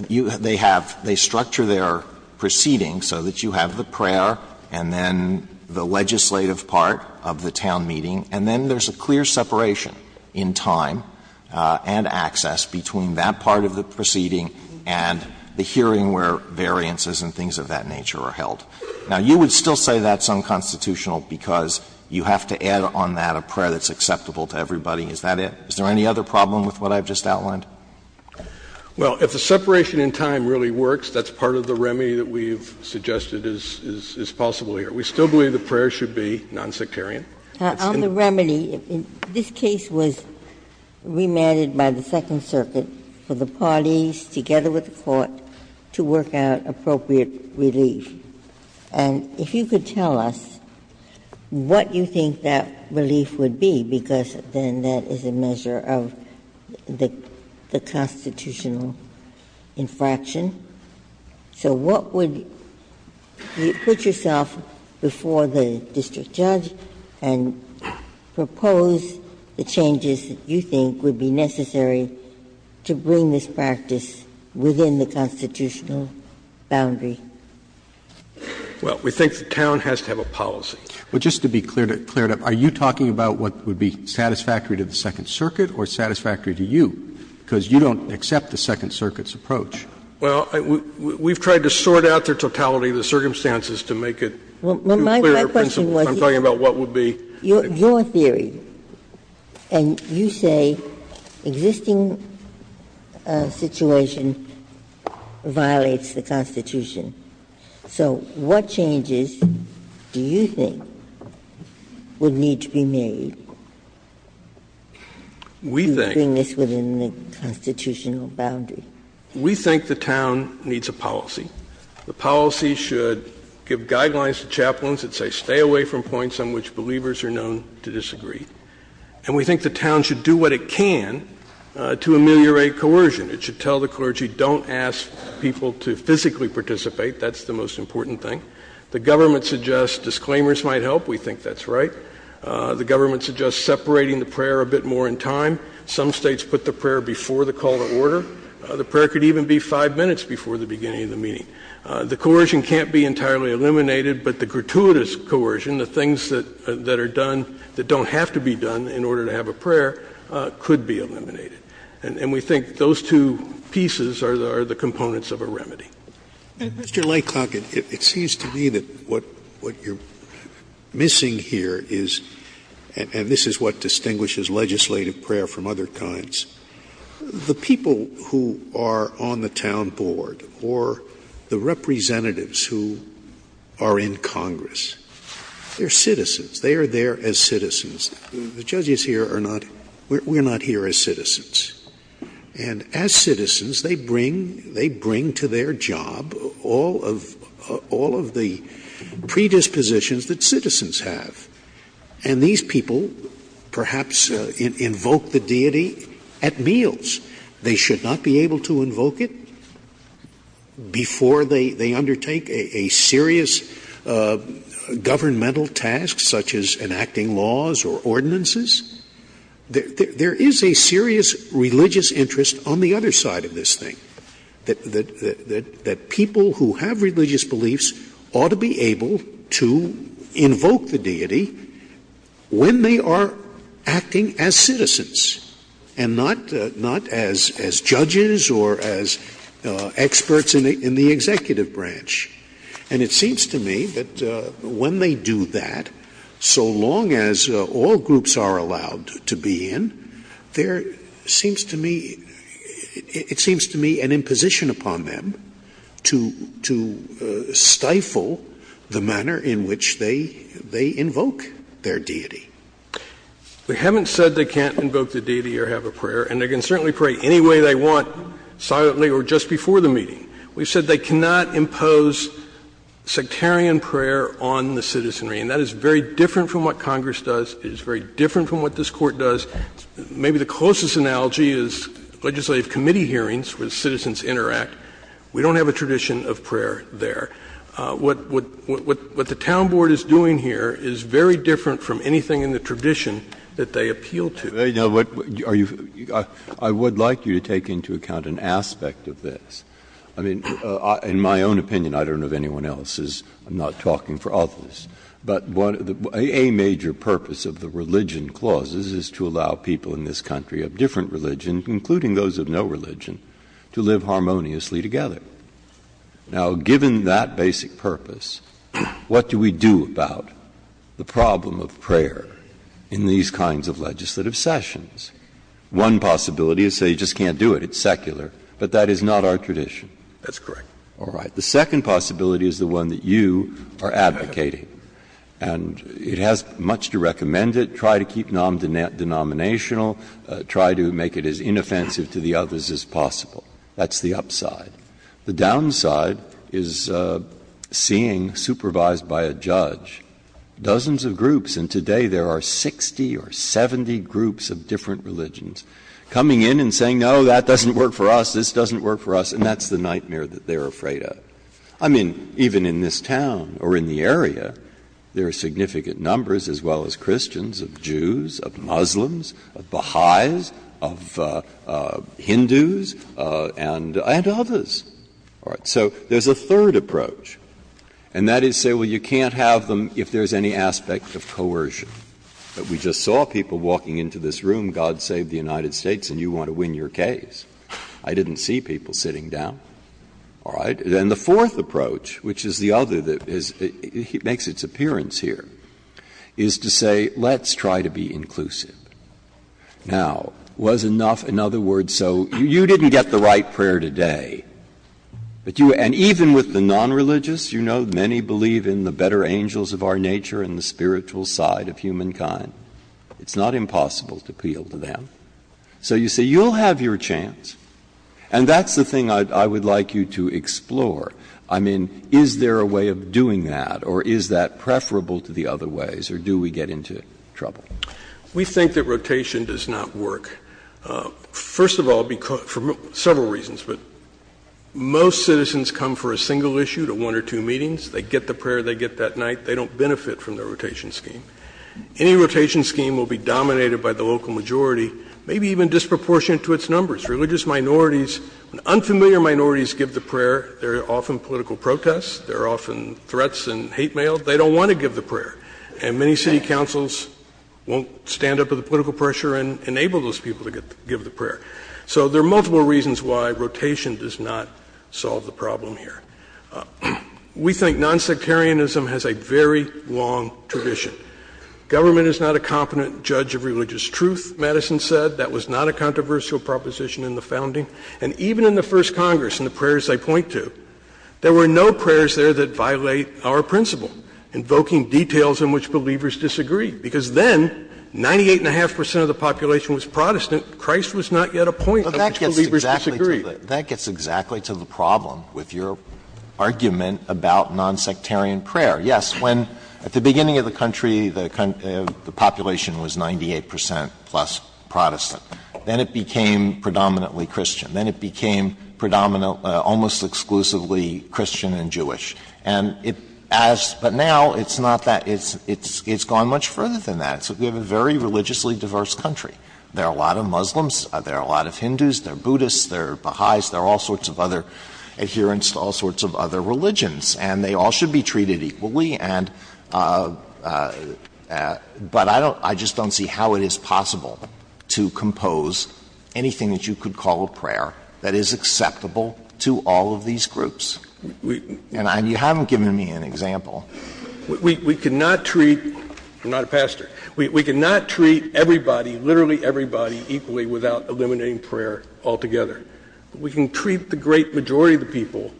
you – they have – they structure their proceedings so that you have the prayer and then the legislative part of the town meeting, and then there's a clear separation in time and access between that part of the proceeding and the hearing where variances and things of that nature are held. Now, you would still say that's unconstitutional because you have to add on that a prayer that's acceptable to everybody. Is that it? Is there any other problem with what I've just outlined? Well, if the separation in time really works, that's part of the remedy that we've suggested is possible here. We still believe the prayer should be nonsectarian. It's in the law. On the remedy, this case was remanded by the Second Circuit for the parties, together with the Court, to work out appropriate relief. And if you could tell us what you think that relief would be, because then that is a measure of the constitutional infraction. So what would – would you put yourself before the district judge and propose the changes that you think would be necessary to bring this practice within the constitutional boundary? Well, we think the town has to have a policy. But just to be cleared up, are you talking about what would be satisfactory to the Second Circuit or satisfactory to you? Because you don't accept the Second Circuit's approach. Well, we've tried to sort out the totality of the circumstances to make it too clear a principle. I'm talking about what would be the principle. Your theory, and you say existing situation violates the Constitution. So what changes do you think would need to be made to bring this within the constitutional boundary? We think the town needs a policy. The policy should give guidelines to chaplains that say stay away from points on which believers are known to disagree. And we think the town should do what it can to ameliorate coercion. It should tell the clergy don't ask people to physically participate. That's the most important thing. The government suggests disclaimers might help. We think that's right. The government suggests separating the prayer a bit more in time. Some states put the prayer before the call to order. The prayer could even be five minutes before the beginning of the meeting. The coercion can't be entirely eliminated, but the gratuitous coercion, the things that are done that don't have to be done in order to have a prayer, could be eliminated. And we think those two pieces are the components of a remedy. Mr. Laycock, it seems to me that what you're missing here is, and this is what distinguishes legislative prayer from other kinds, the people who are on the town board or the representatives who are in Congress, they're citizens. They are there as citizens. The judges here are not, we're not here as citizens. And as citizens, they bring to their job all of the predispositions that citizens have. And these people perhaps invoke the deity at meals. They should not be able to invoke it before they undertake a serious governmental task, such as enacting laws or ordinances. There is a serious religious interest on the other side of this thing, that people who have religious beliefs ought to be able to invoke the deity when they are acting as citizens and not as judges or as experts in the executive branch. And it seems to me that when they do that, so long as all groups are allowed to be in, there seems to me, it seems to me an imposition upon them to stifle the manner in which they invoke their deity. We haven't said they can't invoke the deity or have a prayer, and they can certainly pray any way they want, silently or just before the meeting. We've said they cannot impose sectarian prayer on the citizenry, and that is very different from what Congress does. It is very different from what this Court does. Maybe the closest analogy is legislative committee hearings where citizens interact. We don't have a tradition of prayer there. What the town board is doing here is very different from anything in the tradition that they appeal to. Breyer, are you — I would like you to take into account an aspect of this. I mean, in my own opinion, I don't know if anyone else is, I'm not talking for others, but a major purpose of the religion clauses is to allow people in this country of different religions, including those of no religion, to live harmoniously together. Now, given that basic purpose, what do we do about the problem of prayer in these kinds of legislative sessions? One possibility is say you just can't do it, it's secular. But that is not our tradition. That's correct. All right. The second possibility is the one that you are advocating. And it has much to recommend it. Try to keep it non-denominational. Try to make it as inoffensive to the others as possible. That's the upside. The downside is seeing, supervised by a judge, dozens of groups, and today there are 60 or 70 groups of different religions, coming in and saying, no, that doesn't work for us, this doesn't work for us, and that's the nightmare that they are afraid of. I mean, even in this town or in the area, there are significant numbers, as well as Christians, of Jews, of Muslims, of Baha'is, of Hindus, and others. So there is a third approach, and that is say, well, you can't have them if there is any aspect of coercion. We just saw people walking into this room, God save the United States, and you want to win your case. I didn't see people sitting down. All right? And the fourth approach, which is the other that is the one that makes its appearance here, is to say, let's try to be inclusive. Now, was enough another word so? You didn't get the right prayer today. And even with the non-religious, you know, many believe in the better angels of our nature and the spiritual side of humankind. It's not impossible to appeal to them. So you say, you'll have your chance, and that's the thing I would like you to explore. I mean, is there a way of doing that, or is that preferable to the other ways, or do we get into trouble? We think that rotation does not work, first of all, for several reasons. But most citizens come for a single issue to one or two meetings. They get the prayer they get that night. They don't benefit from the rotation scheme. Any rotation scheme will be dominated by the local majority, maybe even disproportionate to its numbers. Religious minorities, unfamiliar minorities give the prayer. There are often political protests. There are often threats and hate mail. They don't want to give the prayer. And many city councils won't stand up to the political pressure and enable those people to give the prayer. So there are multiple reasons why rotation does not solve the problem here. We think nonsectarianism has a very long tradition. Government is not a competent judge of religious truth, Madison said. That was not a controversial proposition in the founding. And even in the first Congress, in the prayers they point to, there were no prayers there that violate our principle, invoking details in which believers disagree. Because then, 98.5 percent of the population was Protestant. Christ was not yet a point in which believers disagree. Alito, that gets exactly to the problem with your argument about nonsectarian prayer. Yes, when at the beginning of the country, the population was 98 percent plus Protestant. Then it became predominantly Christian. Then it became predominant almost exclusively Christian and Jewish. And as – but now it's not that – it's gone much further than that. So we have a very religiously diverse country. There are a lot of Muslims. There are a lot of Hindus. There are Buddhists. There are Baha'is. There are all sorts of other adherents to all sorts of other religions. And they all should be treated equally and – but I don't – I just don't see how it is possible to compose anything that you could call a prayer that is acceptable to all of these groups. And you haven't given me an example. We cannot treat – I'm not a pastor. We cannot treat everybody, literally everybody, equally without eliminating prayer altogether. We can treat the great majority of the people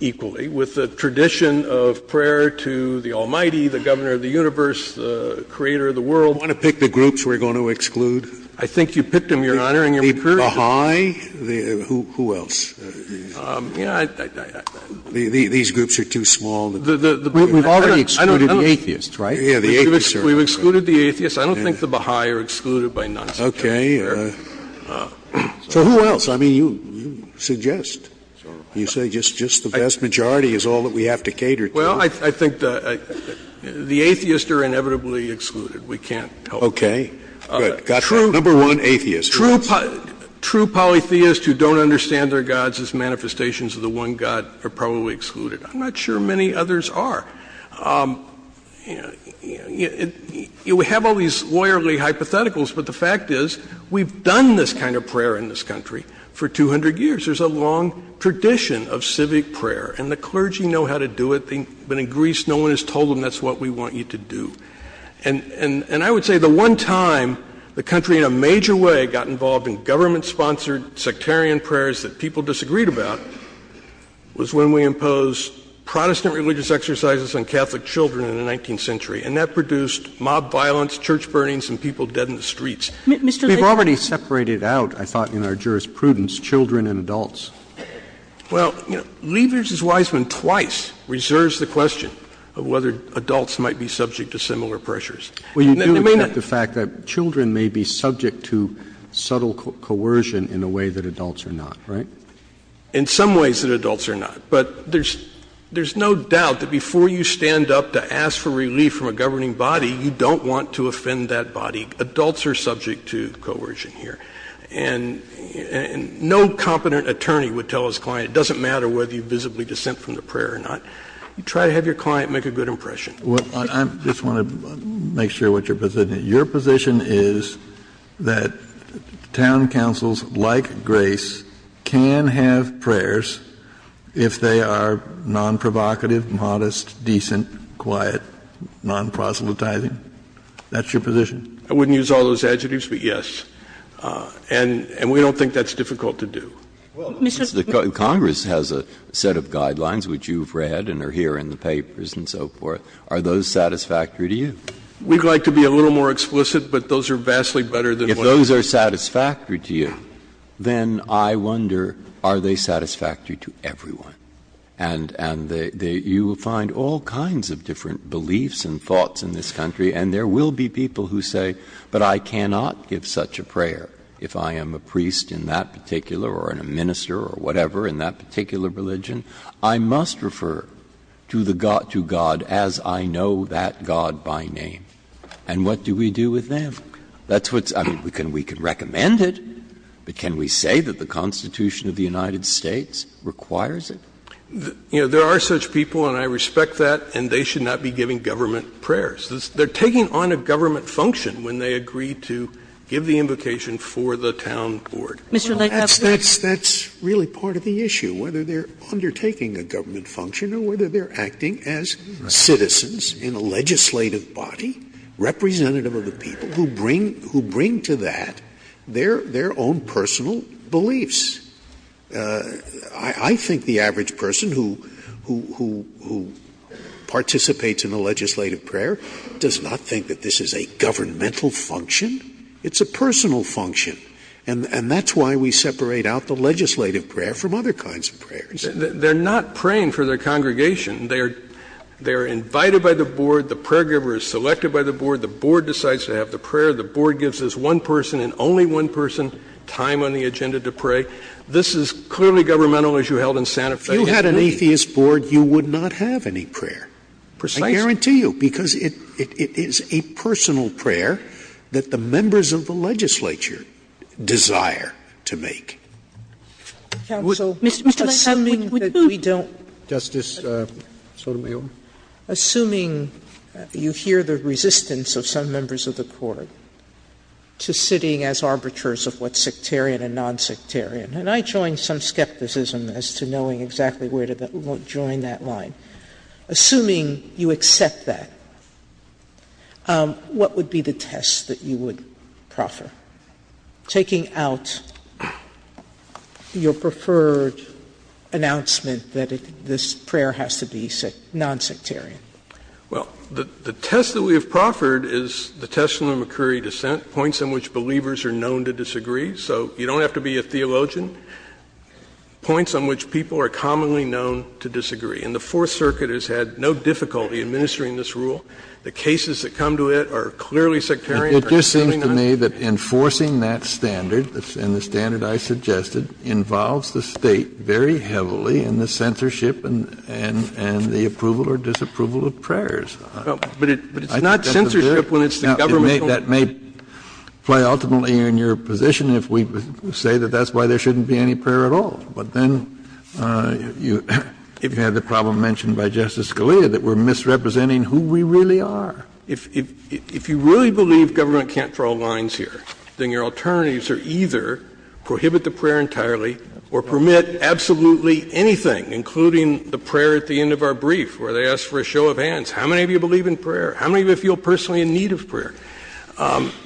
equally with a tradition of prayer to the Almighty, the governor of the universe, the creator of the world. You want to pick the groups we're going to exclude? I think you picked them, Your Honor, and you're encouraging me. The Baha'i? Who else? Yeah, I – These groups are too small. We've already excluded the atheists, right? Yeah, the atheists are – We've excluded the atheists. I don't think the Baha'i are excluded by non-secular prayer. Okay. So who else? I mean, you suggest. You say just the vast majority is all that we have to cater to. Well, I think the atheists are inevitably excluded. We can't help it. Okay. Good. Got it. Number one, atheists. True polytheists who don't understand their gods as manifestations of the one God are probably excluded. I'm not sure many others are. You know, we have all these lawyerly hypotheticals, but the fact is we've done this kind of prayer in this country for 200 years. There's a long tradition of civic prayer, and the clergy know how to do it. But in Greece, no one has told them that's what we want you to do. And I would say the one time the country in a major way got involved in government-sponsored sectarian prayers that people disagreed about was when we imposed Protestant religious exercises on Catholic children in the 19th century, and that produced mob violence, church burnings, and people dead in the streets. We've already separated out, I thought in our jurisprudence, children and adults. Well, Lieber's Wiseman twice reserves the question of whether adults might be subject to similar pressures. Well, you do accept the fact that children may be subject to subtle coercion in a way that adults are not, right? In some ways that adults are not. But there's no doubt that before you stand up to ask for relief from a governing body, you don't want to offend that body. Adults are subject to coercion here. And no competent attorney would tell his client it doesn't matter whether you visibly dissent from the prayer or not. You try to have your client make a good impression. Kennedy, I just want to make sure what your position is. Your position is that town councils like Grace can have prayers if they are non-provocative, modest, decent, quiet, non-Protestantizing? That's your position? I wouldn't use all those adjectives, but yes. And we don't think that's difficult to do. Breyer, Congress has a set of guidelines, which you've read and are here in the papers and so forth. Are those satisfactory to you? We'd like to be a little more explicit, but those are vastly better than what I'm saying. If those are satisfactory to you, then I wonder are they satisfactory to everyone? And you will find all kinds of different beliefs and thoughts in this country, and there will be people who say, but I cannot give such a prayer if I am a priest in that particular or in a minister or whatever in that particular religion. I must refer to the God as I know that God by name. And what do we do with them? That's what's – I mean, we can recommend it, but can we say that the Constitution of the United States requires it? You know, there are such people, and I respect that, and they should not be giving government prayers. They're taking on a government function when they agree to give the invocation for the town board. Kagan Mr. Lake, I have a question. Scalia That's really part of the issue, whether they're undertaking a government function or whether they're acting as citizens in a legislative body, representative of the people, who bring to that their own personal beliefs. Scalia It does not think that this is a governmental function. It's a personal function, and that's why we separate out the legislative prayer from other kinds of prayers. McGovern They're not praying for their congregation. They are invited by the board. The prayer giver is selected by the board. The board decides to have the prayer. The board gives this one person and only one person time on the agenda to pray. This is clearly governmental, as you held in Santa Fe. Scalia If you had an atheist board, you would not have any prayer. McGovern Precisely. Scalia I guarantee you, because it is a personal prayer that the members of the legislature desire to make. Sotomayor Counsel, assuming that we don't Sotomayor Justice Sotomayor? Sotomayor Assuming you hear the resistance of some members of the court to sitting as arbiters of what's sectarian and non-sectarian, and I join some skepticism as to knowing exactly where to join that line. Assuming you accept that, what would be the test that you would proffer? Taking out your preferred announcement that this prayer has to be non-sectarian. McGovern Well, the test that we have proffered is the test of the McCurry dissent, points on which believers are known to disagree. So you don't have to be a theologian. Points on which people are commonly known to disagree. And the Fourth Circuit has had no difficulty administering this rule. The cases that come to it are clearly sectarian. Kennedy It just seems to me that enforcing that standard, and the standard I suggested, involves the State very heavily in the censorship and the approval or disapproval of prayers. McGovern But it's not censorship when it's the government's own. Kennedy Now, that may play ultimately in your position if we say that that's why there shouldn't be any prayer at all. But then, if you have the problem mentioned by Justice Scalia, that we're misrepresenting who we really are. McGovern If you really believe government can't draw lines here, then your alternatives are either prohibit the prayer entirely or permit absolutely anything, including the prayer at the end of our brief, where they ask for a show of hands. How many of you believe in prayer? How many of you feel personally in need of prayer?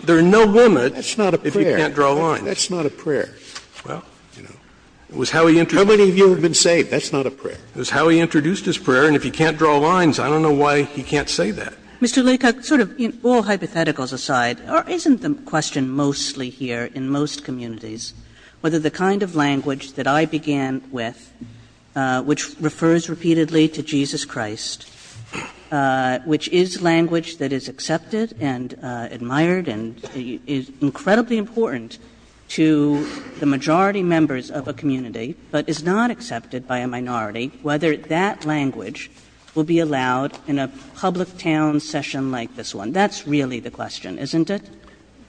There are no limits if you can't draw lines. Scalia That's not a prayer. Scalia Well, you know, it was how he introduced his prayer, and if he can't draw lines, I don't know why he can't say that. Kagan Mr. Leacock, sort of all hypotheticals aside, isn't the question mostly here, in most communities, whether the kind of language that I began with, which refers repeatedly to Jesus Christ, which is language that is accepted and admired and is incredibly important to the majority members of a community, but is not accepted by a minority, whether that language will be allowed in a public town session like this one? That's really the question, isn't it? Leacock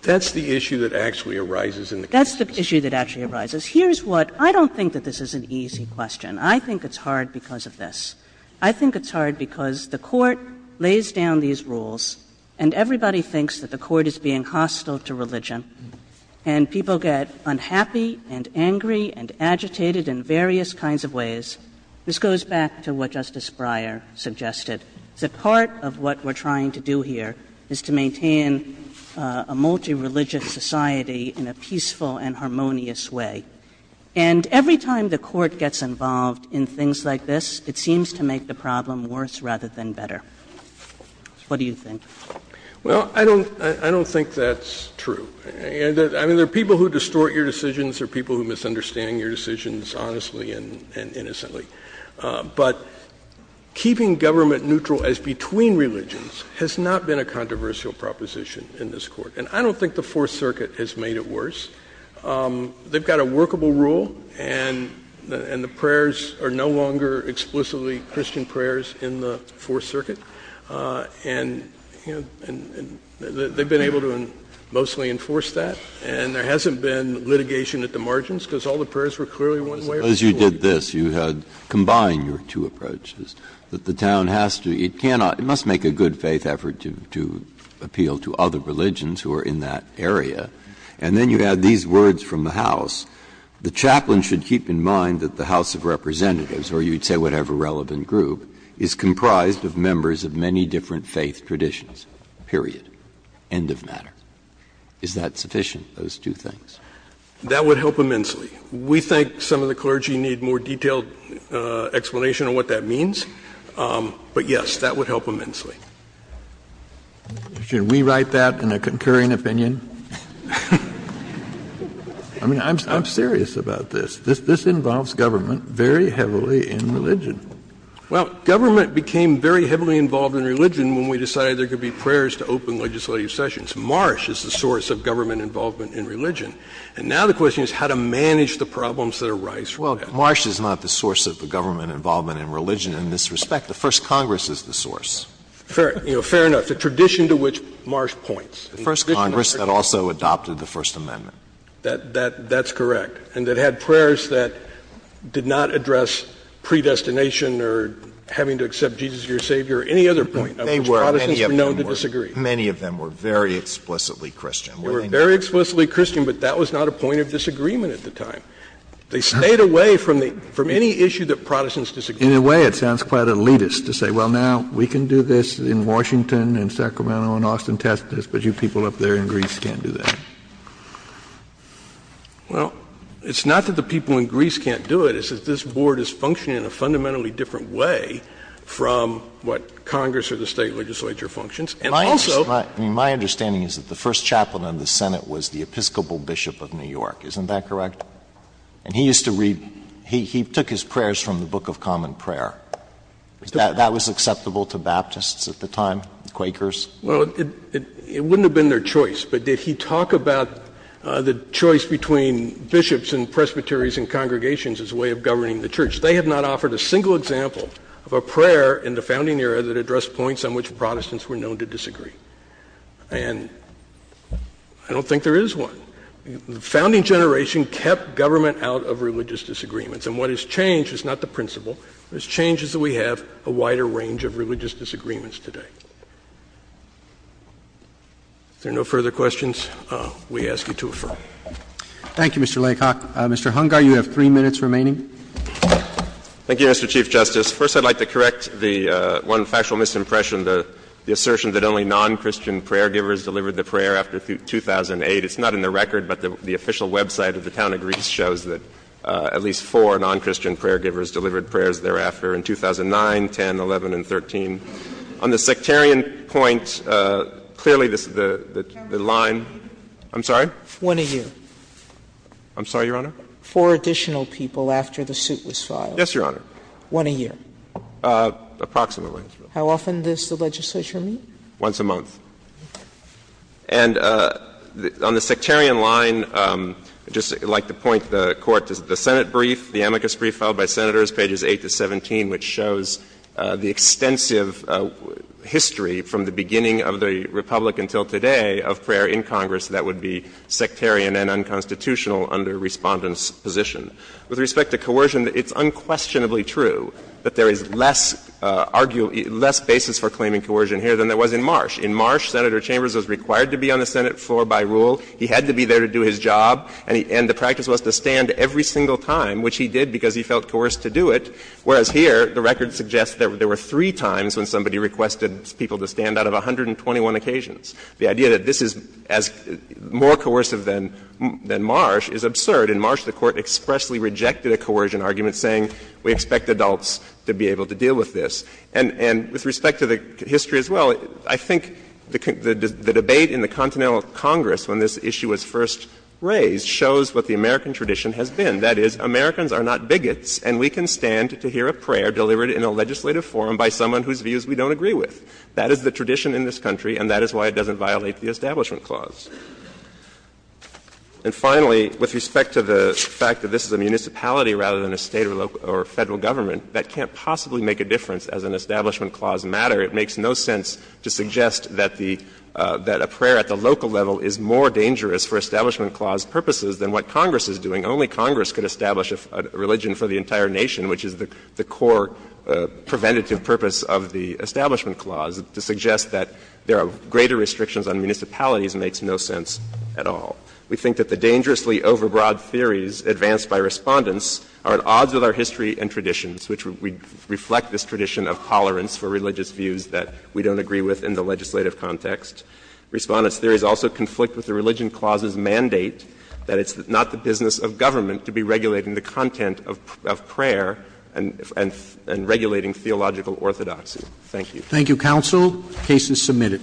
That's the issue that actually arises in the case. Kagan That's the issue that actually arises. Here's what — I don't think that this is an easy question. I think it's hard because of this. I think it's hard because the Court lays down these rules, and everybody thinks that the Court is being hostile to religion, and people get unhappy and angry and agitated in various kinds of ways. This goes back to what Justice Breyer suggested, that part of what we're trying to do here is to maintain a multireligious society in a peaceful and harmonious way. And every time the Court gets involved in things like this, it seems to make the problem worse rather than better. What do you think? Leacock Well, I don't think that's true. I mean, there are people who distort your decisions, there are people who misunderstand your decisions honestly and innocently. But keeping government neutral as between religions has not been a controversial proposition in this Court. And I don't think the Fourth Circuit has made it worse. They've got a workable rule, and the prayers are no longer explicitly Christian prayers in the Fourth Circuit. And they've been able to mostly enforce that. And there hasn't been litigation at the margins, because all the prayers were clearly one way or the other. Breyer As you did this, you had combined your two approaches, that the town has to, it cannot – it must make a good faith effort to appeal to other religions who are in that area. And then you had these words from the House, the chaplain should keep in mind that the House of Representatives, or you'd say whatever relevant group, is comprised of members of many different faith traditions, period, end of matter. Is that sufficient, those two things? That would help immensely. We think some of the clergy need more detailed explanation on what that means. But, yes, that would help immensely. Should we write that in a concurring opinion? I mean, I'm serious about this. This involves government very heavily in religion. Well, government became very heavily involved in religion when we decided there could be prayers to open legislative sessions. Marsh is the source of government involvement in religion. And now the question is how to manage the problems that arise from that. Well, Marsh is not the source of the government involvement in religion in this respect. The First Congress is the source. Fair enough. The tradition to which Marsh points. The First Congress that also adopted the First Amendment. That's correct. And that had prayers that did not address predestination or having to accept Jesus as your Savior or any other point of which Protestants were known to disagree. Many of them were very explicitly Christian. They were very explicitly Christian, but that was not a point of disagreement at the time. They stayed away from the — from any issue that Protestants disagreed with. In a way, it sounds quite elitist to say, well, now we can do this in Washington and Sacramento and Austin, Texas, but you people up there in Greece can't do that. Well, it's not that the people in Greece can't do it. It's that this Board is functioning in a fundamentally different way from what Congress or the State legislature functions. And also my understanding is that the first chaplain of the Senate was the Episcopal Bishop of New York. Isn't that correct? And he used to read — he took his prayers from the Book of Common Prayer. That was acceptable to Baptists at the time, Quakers? Well, it wouldn't have been their choice. But did he talk about the choice between bishops and presbyteries and congregations as a way of governing the church? They have not offered a single example of a prayer in the founding era that addressed points on which Protestants were known to disagree. And I don't think there is one. The founding generation kept government out of religious disagreements. And what has changed is not the principle. What has changed is that we have a wider range of religious disagreements today. If there are no further questions, we ask you to affirm. Roberts. Thank you, Mr. Laycock. Mr. Hungar, you have three minutes remaining. Thank you, Mr. Chief Justice. First, I would like to correct the one factual misimpression, the assertion that only non-Christian prayer givers delivered the prayer after 2008. It's not in the record, but the official website of the town of Greece shows that at least four non-Christian prayer givers delivered prayers thereafter in 2009, 10, 11, and 13. On the sectarian point, clearly, the line – Sotomayor, one a year. I'm sorry? One a year. I'm sorry, Your Honor? Four additional people after the suit was filed. Yes, Your Honor. One a year. Approximately. How often does the legislature meet? Once a month. And on the sectarian line, I'd just like to point the Court to the Senate brief, the amicus brief filed by Senators, pages 8 to 17, which shows the extensive history from the beginning of the Republic until today of prayer in Congress that would be sectarian and unconstitutional under Respondent's position. With respect to coercion, it's unquestionably true that there is less arguable – less basis for claiming coercion here than there was in Marsh. In Marsh, Senator Chambers was required to be on the Senate floor by rule. He had to be there to do his job, and the practice was to stand every single time, which he did because he felt coerced to do it, whereas here, the record suggests that there were three times when somebody requested people to stand out of 121 occasions. The idea that this is as more coercive than Marsh is absurd. In Marsh, the Court expressly rejected a coercion argument, saying we expect adults to be able to deal with this. And with respect to the history as well, I think the debate in the continental Congress when this issue was first raised shows what the American tradition has been. That is, Americans are not bigots and we can stand to hear a prayer delivered in a legislative forum by someone whose views we don't agree with. That is the tradition in this country and that is why it doesn't violate the Establishment Clause. And finally, with respect to the fact that this is a municipality rather than a State or Federal Government, that can't possibly make a difference as an Establishment Clause matter. It makes no sense to suggest that the – that a prayer at the local level is more dangerous for Establishment Clause purposes than what Congress is doing. Only Congress could establish a religion for the entire nation, which is the core preventative purpose of the Establishment Clause, to suggest that there are greater restrictions on municipalities makes no sense at all. We think that the dangerously overbroad theories advanced by Respondents are at odds with our history and traditions, which reflect this tradition of tolerance for religious views that we don't agree with in the legislative context. Respondents, there is also conflict with the Religion Clause's mandate that it's not the business of government to be regulating the content of prayer and regulating theological orthodoxy. Thank you. Thank you, counsel. The case is submitted.